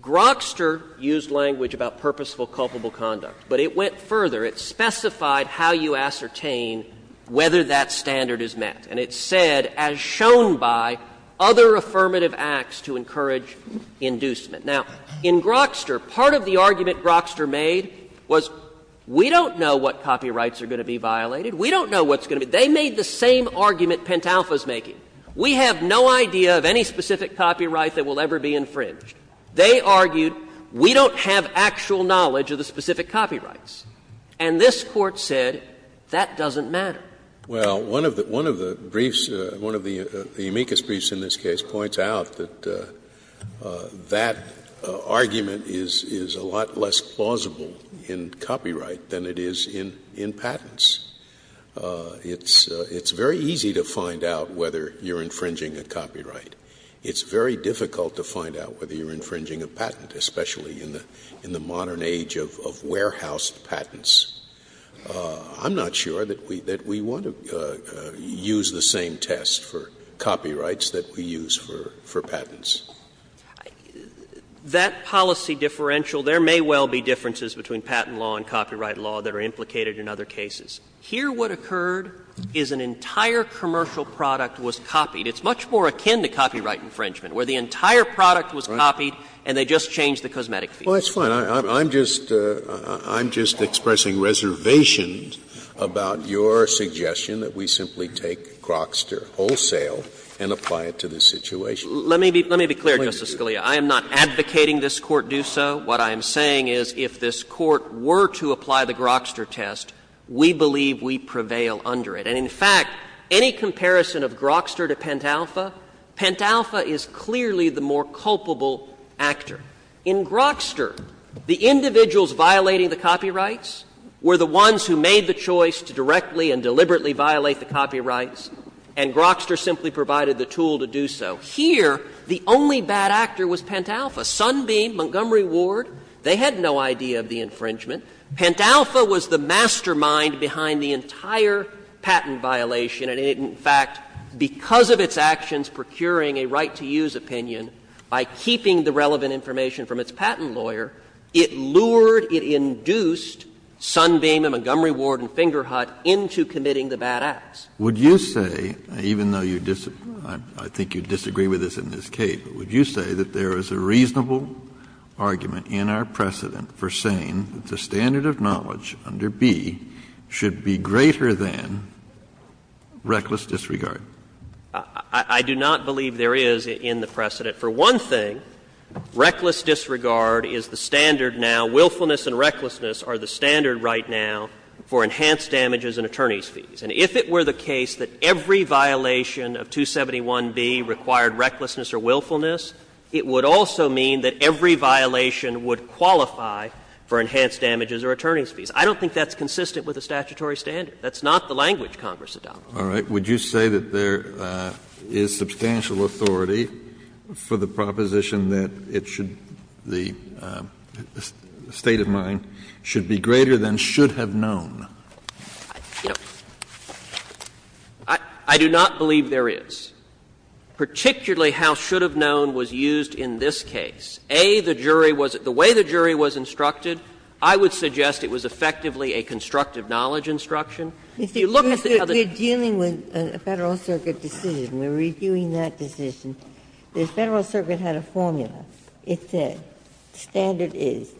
Grotzker used language about purposeful culpable conduct, but it went further. It specified how you ascertain whether that standard is met. And it said, as shown by other affirmative acts to encourage inducement. Now, in Grotzker, part of the argument Grotzker made was, we don't know what copyrights are going to be violated, we don't know what's going to be violated. They made the same argument Pentalpha is making. We have no idea of any specific copyright that will ever be infringed. They argued, we don't have actual knowledge of the specific copyrights. And this Court said, that doesn't matter. Well, one of the briefs, one of the amicus briefs in this case points out that that argument is a lot less plausible in copyright than it is in patents. It's very easy to find out whether you're infringing a copyright. It's very difficult to find out whether you're infringing a patent, especially in the modern age of warehoused patents. I'm not sure that we want to use the same test for copyrights that we use for patents. That policy differential, there may well be differences between patent law and copyright law that are implicated in other cases. Here what occurred is an entire commercial product was copied. It's much more akin to copyright infringement, where the entire product was copied and they just changed the cosmetic feature. Well, that's fine. I'm just expressing reservations about your suggestion that we simply take Grokster wholesale and apply it to this situation. Let me be clear, Justice Scalia. I am not advocating this Court do so. What I am saying is if this Court were to apply the Grokster test, we believe we prevail under it. And in fact, any comparison of Grokster to Pentalpha, Pentalpha is clearly the more culpable actor. In Grokster, the individuals violating the copyrights were the ones who made the choice to directly and deliberately violate the copyrights, and Grokster simply provided the tool to do so. Here, the only bad actor was Pentalpha. Sunbeam, Montgomery Ward, they had no idea of the infringement. Pentalpha was the mastermind behind the entire patent violation, and in fact, because of its actions procuring a right-to-use opinion by keeping the relevant information from its patent lawyer, it lured, it induced Sunbeam and Montgomery Ward and Fingerhut into committing the bad acts. Kennedy, I think you disagree with this in this case, but would you say that there is a reasonable argument in our precedent for saying that the standard of knowledge under B should be greater than reckless disregard? I do not believe there is in the precedent. For one thing, reckless disregard is the standard now. Willfulness and recklessness are the standard right now for enhanced damages and attorney's fees. And if it were the case that every violation of 271B required recklessness or willfulness, it would also mean that every violation would qualify for enhanced damages or attorney's fees. I don't think that's consistent with the statutory standard. That's not the language Congress adopts. All right. Would you say that there is substantial authority for the proposition that it should be, the state of mind, should be greater than should have known? I do not believe there is. Particularly how should have known was used in this case. A, the jury was the way the jury was instructed, I would suggest it was effectively a constructive knowledge instruction. If you look at the other We're dealing with a Federal Circuit decision. We're reviewing that decision. The Federal Circuit had a formula. It said, standard is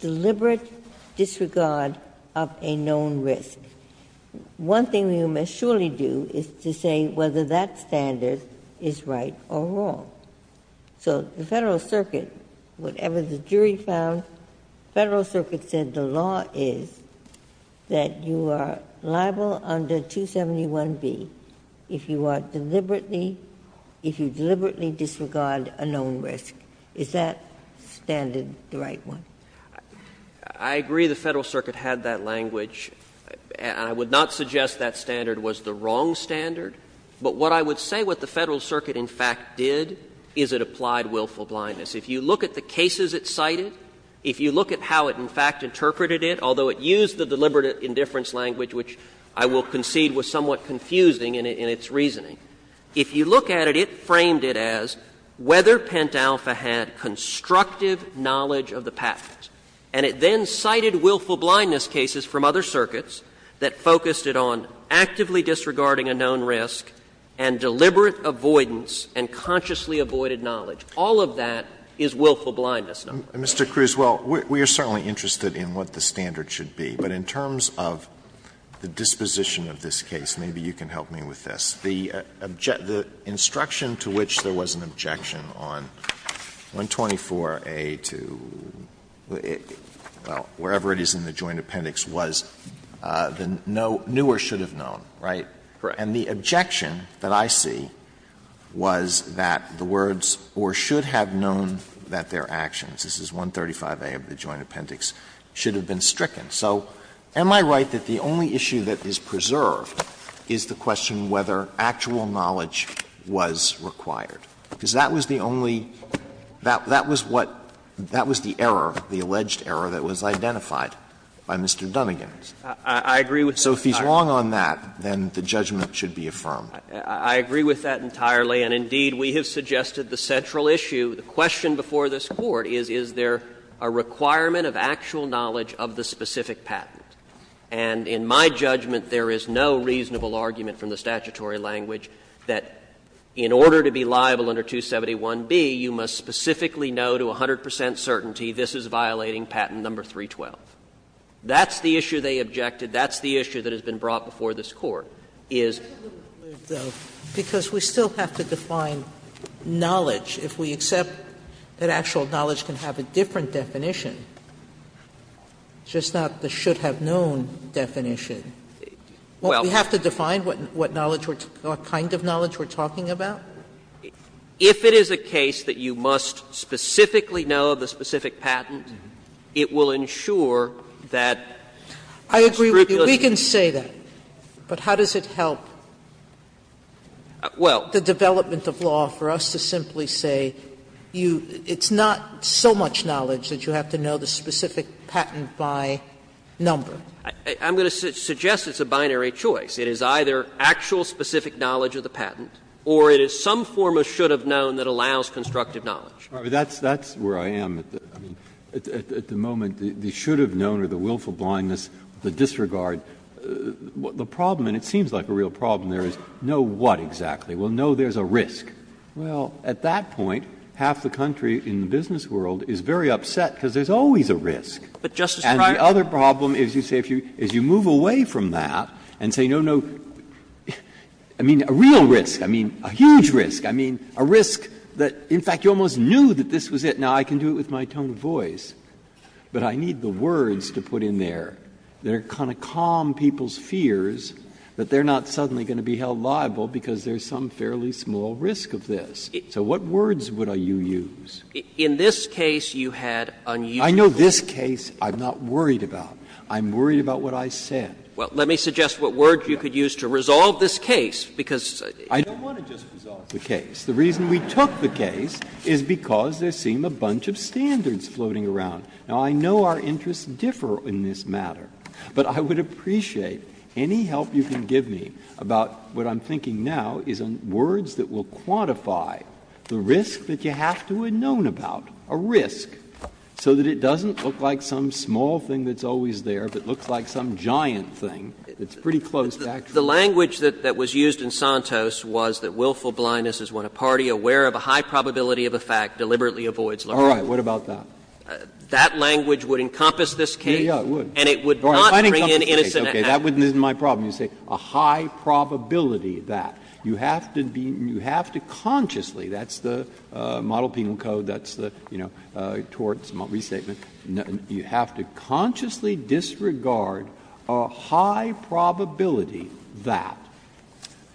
deliberate disregard of a known risk. One thing we will surely do is to say whether that standard is right or wrong. So the Federal Circuit, whatever the jury found, Federal Circuit said the law is that you are liable under 271B if you are deliberately, if you deliberately disregard a known risk. Is that standard the right one? I agree the Federal Circuit had that language, and I would not suggest that standard was the wrong standard. But what I would say what the Federal Circuit in fact did is it applied willful blindness. If you look at the cases it cited, if you look at how it in fact interpreted it, although it used the deliberate indifference language, which I will concede was somewhat confusing in its reasoning, if you look at it, it framed it as whether Pent Alpha had constructive knowledge of the patent. And it then cited willful blindness cases from other circuits that focused it on actively disregarding a known risk and deliberate avoidance and consciously avoided knowledge. All of that is willful blindness. Alito, Mr. Cruz, well, we are certainly interested in what the standard should be, but in terms of the disposition of this case, maybe you can help me with this. The instruction to which there was an objection on 124A to, well, wherever it is in the joint appendix, was the newer should have known, right? Cruz, and the objection that I see was that the words, or should have known that their actions, this is 135A of the joint appendix, should have been stricken. So am I right that the only issue that is preserved is the question whether actual knowledge was required? Because that was the only, that was what, that was the error, the alleged error that was identified by Mr. Dunnegan. Cruz, I agree with you. If it's wrong on that, then the judgment should be affirmed. I agree with that entirely, and indeed, we have suggested the central issue, the question before this Court is, is there a requirement of actual knowledge of the specific patent? And in my judgment, there is no reasonable argument from the statutory language that in order to be liable under 271B, you must specifically know to 100 percent certainty this is violating patent number 312. That's the issue they objected. That's the issue that has been brought before this Court, is. Sotomayor, because we still have to define knowledge. If we accept that actual knowledge can have a different definition, just not the should have known definition, won't we have to define what knowledge, what kind of knowledge we're talking about? If it is a case that you must specifically know of the specific patent, it will ensure that the scrupulousness of the statute is not violated. Sotomayor, I agree with you. We can say that, but how does it help the development of law for us to simply say it's not so much knowledge that you have to know the specific patent by number? I'm going to suggest it's a binary choice. It is either actual specific knowledge of the patent, or it is some form of should have known that allows constructive knowledge. Breyer, that's where I am at the moment. The should have known or the willful blindness, the disregard. The problem, and it seems like a real problem there, is know what exactly? Well, know there's a risk. Well, at that point, half the country in the business world is very upset because there's always a risk. And the other problem is you say if you move away from that and say no, no, I mean a real risk, I mean a huge risk, I mean a risk that, in fact, you almost knew that this was it. Now, I can do it with my tone of voice, but I need the words to put in there that are going to calm people's fears that they're not suddenly going to be held liable because there's some fairly small risk of this. So what words would you use? In this case, you had unusual. I know this case I'm not worried about. I'm worried about what I said. Well, let me suggest what words you could use to resolve this case, because I don't want to just resolve the case. The reason we took the case is because there seem a bunch of standards floating around. Now, I know our interests differ in this matter, but I would appreciate any help you can give me about what I'm thinking now is words that will quantify the risk that you have to have known about, a risk, so that it doesn't look like some small thing that's always there, but looks like some giant thing that's pretty close back to you. The language that was used in Santos was that willful blindness is when a party aware of a high probability of a fact deliberately avoids learning. Breyer, what about that? That language would encompass this case, and it would not bring in innocent actors. That wouldn't be my problem. You say a high probability of that. You have to be you have to consciously, that's the Model-Penal Code, that's the Torts Mott restatement, you have to consciously disregard a high probability that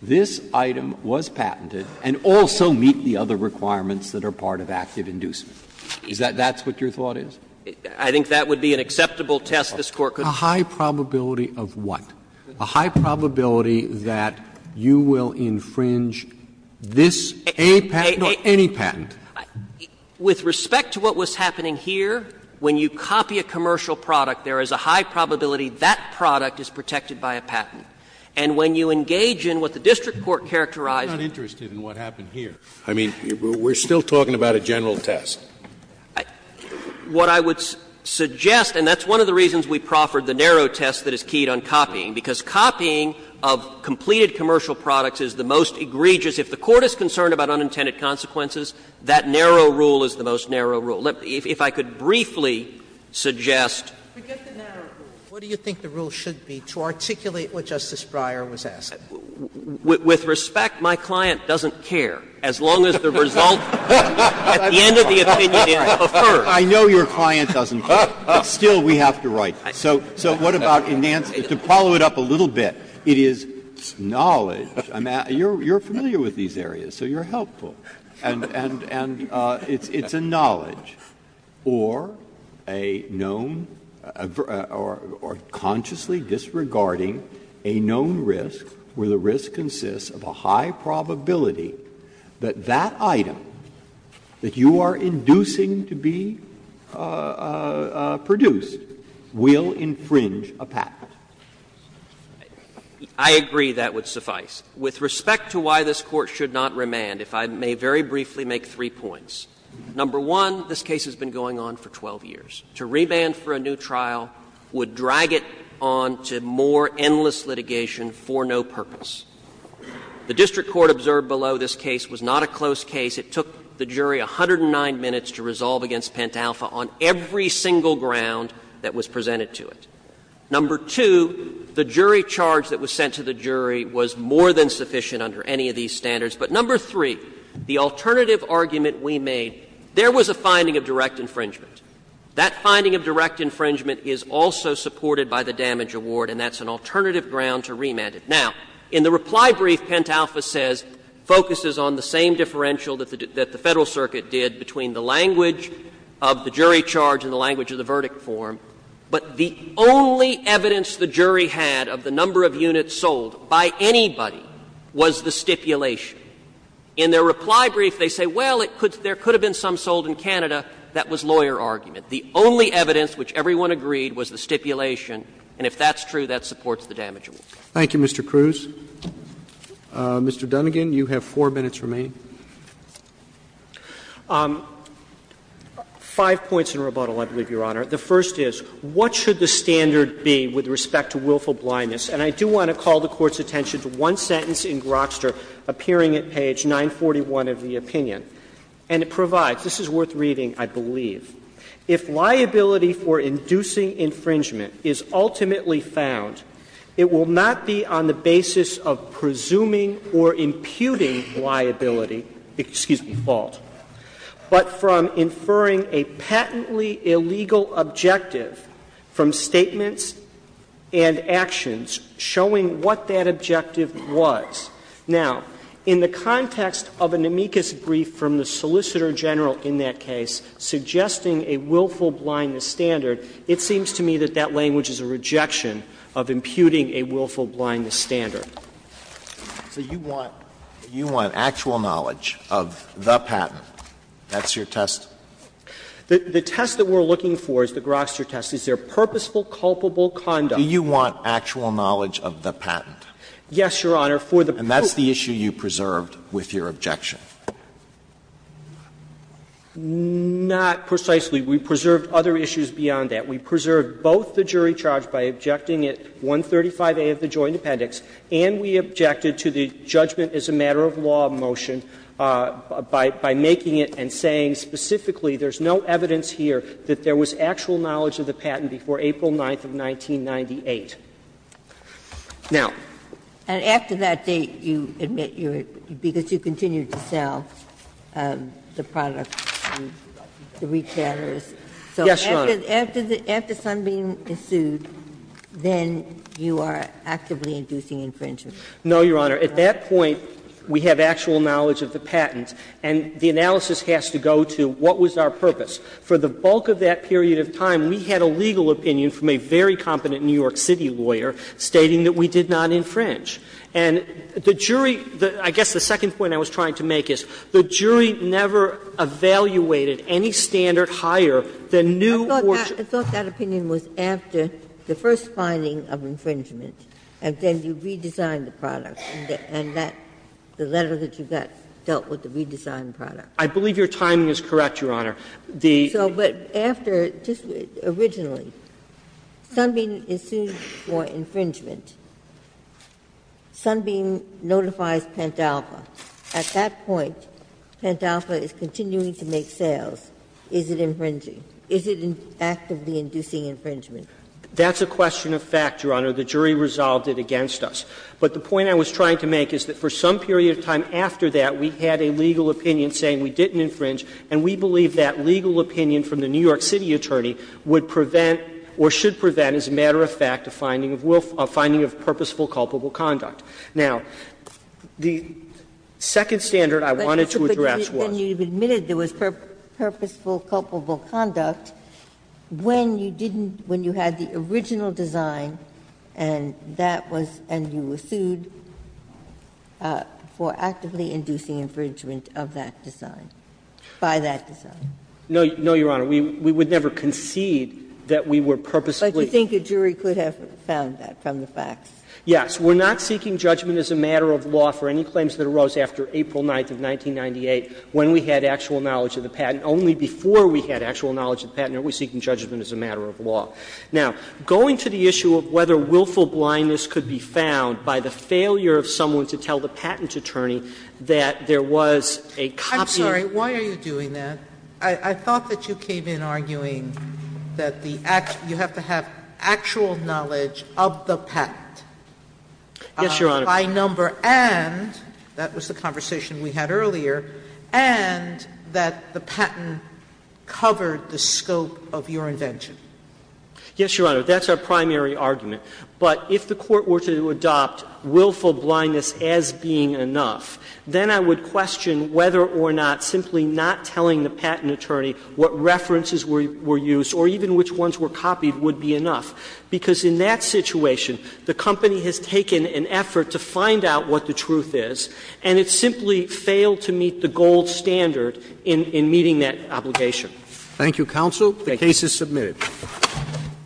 this item was patented and also meet the other requirements that are part of active inducement. Is that that's what your thought is? I think that would be an acceptable test this Court could. A high probability of what? A high probability that you will infringe this patent, no, any patent. With respect to what was happening here, when you copy a commercial product, there is a high probability that product is protected by a patent. And when you engage in what the district court characterized as a general test, what I would suggest, and that's one of the reasons we proffered the narrow test that is keyed on copying, because copying of completed commercial products is the most egregious. That narrow rule is the most narrow rule. If I could briefly suggest. Sotomayor, what do you think the rule should be to articulate what Justice Breyer was asking? With respect, my client doesn't care, as long as the result at the end of the opinion is preferred. I know your client doesn't care, but still we have to write. So what about to follow it up a little bit, it is knowledge. You are familiar with these areas, so you are helpful. And it's a knowledge, or a known, or consciously disregarding a known risk, where the risk consists of a high probability that that item that you are inducing to be produced will infringe a patent. I agree that would suffice. With respect to why this Court should not remand, if I may very briefly make three points. Number one, this case has been going on for 12 years. To remand for a new trial would drag it on to more endless litigation for no purpose. The district court observed below this case was not a close case. It took the jury 109 minutes to resolve against Pentalpha on every single ground that was presented to it. Number two, the jury charge that was sent to the jury was more than sufficient under any of these standards. But number three, the alternative argument we made, there was a finding of direct infringement. That finding of direct infringement is also supported by the damage award, and that's an alternative ground to remand it. Now, in the reply brief, Pentalpha says, focuses on the same differential that the Federal Circuit did between the language of the jury charge and the language of the verdict form. But the only evidence the jury had of the number of units sold by anybody was the stipulation. In their reply brief, they say, well, there could have been some sold in Canada. That was lawyer argument. The only evidence which everyone agreed was the stipulation, and if that's true, that supports the damage award. Roberts. Thank you, Mr. Cruz. Mr. Dunnegan, you have 4 minutes remaining. Five points in rebuttal, I believe, Your Honor. The first is, what should the standard be with respect to willful blindness? And I do want to call the Court's attention to one sentence in Grokster, appearing at page 941 of the opinion. And it provides, this is worth reading, I believe. If liability for inducing infringement is ultimately found, it will not be on the basis of presuming or imputing liability, excuse me, fault, but from inferring a patently illegal objective from statements and actions, showing what that objective was. Now, in the context of an amicus brief from the Solicitor General in that case, suggesting a willful blindness standard, it seems to me that that language is a rejection of imputing a willful blindness standard. So you want actual knowledge of the patent. That's your test? The test that we're looking for, the Grokster test, is there purposeful culpable conduct? Alito, do you want actual knowledge of the patent? Yes, Your Honor. And that's the issue you preserved with your objection? Not precisely. We preserved other issues beyond that. We preserved both the jury charge by objecting it, 135A of the Joint Appendix, and we objected to the judgment as a matter of law motion by making it and saying specifically there's no evidence here that there was actual knowledge of the patent before April 9th of 1998. Now. And after that date, you admit you're going to continue to sell the product to the retailers. Yes, Your Honor. So after something ensued, then you are actively inducing infringement. No, Your Honor. At that point, we have actual knowledge of the patent, and the analysis has to go to what was our purpose. For the bulk of that period of time, we had a legal opinion from a very competent New York City lawyer stating that we did not infringe. And the jury, I guess the second point I was trying to make is, the jury never evaluated any standard higher than new original. I thought that opinion was after the first finding of infringement, and then you redesigned the product, and that the letter that you got dealt with the redesigned product. I believe your timing is correct, Your Honor. The So, but after, just originally, Sunbeam ensued for infringement. Sunbeam notifies Pentalpha. At that point, Pentalpha is continuing to make sales. Is it infringing? Is it actively inducing infringement? That's a question of fact, Your Honor. The jury resolved it against us. But the point I was trying to make is that for some period of time after that, we had a legal opinion saying we didn't infringe, and we believe that legal opinion from the New York City attorney would prevent or should prevent, as a matter of fact, a finding of purposeful culpable conduct. Now, the second standard I wanted to address was. Ginsburg. But you admitted there was purposeful culpable conduct when you didn't, when you had the original design, and that was, and you were sued for actively inducing infringement of that design, by that design. No, no, Your Honor. We would never concede that we were purposefully. But you think a jury could have found that from the facts? Yes. We're not seeking judgment as a matter of law for any claims that arose after April 9th of 1998, when we had actual knowledge of the patent, only before we had actual knowledge of the patent are we seeking judgment as a matter of law. Now, going to the issue of whether willful blindness could be found by the failure of someone to tell the patent attorney that there was a copy of. I'm sorry. Why are you doing that? I thought that you came in arguing that the actual, you have to have actual knowledge of the patent. Yes, Your Honor. By number and, that was the conversation we had earlier, and that the patent covered the scope of your invention. Yes, Your Honor. That's our primary argument. But if the Court were to adopt willful blindness as being enough, then I would question whether or not simply not telling the patent attorney what references were used or even which ones were copied would be enough, because in that situation the company has taken an effort to find out what the truth is, and it simply failed to meet the gold standard in meeting that obligation. Thank you, counsel. The case is submitted. Thank you.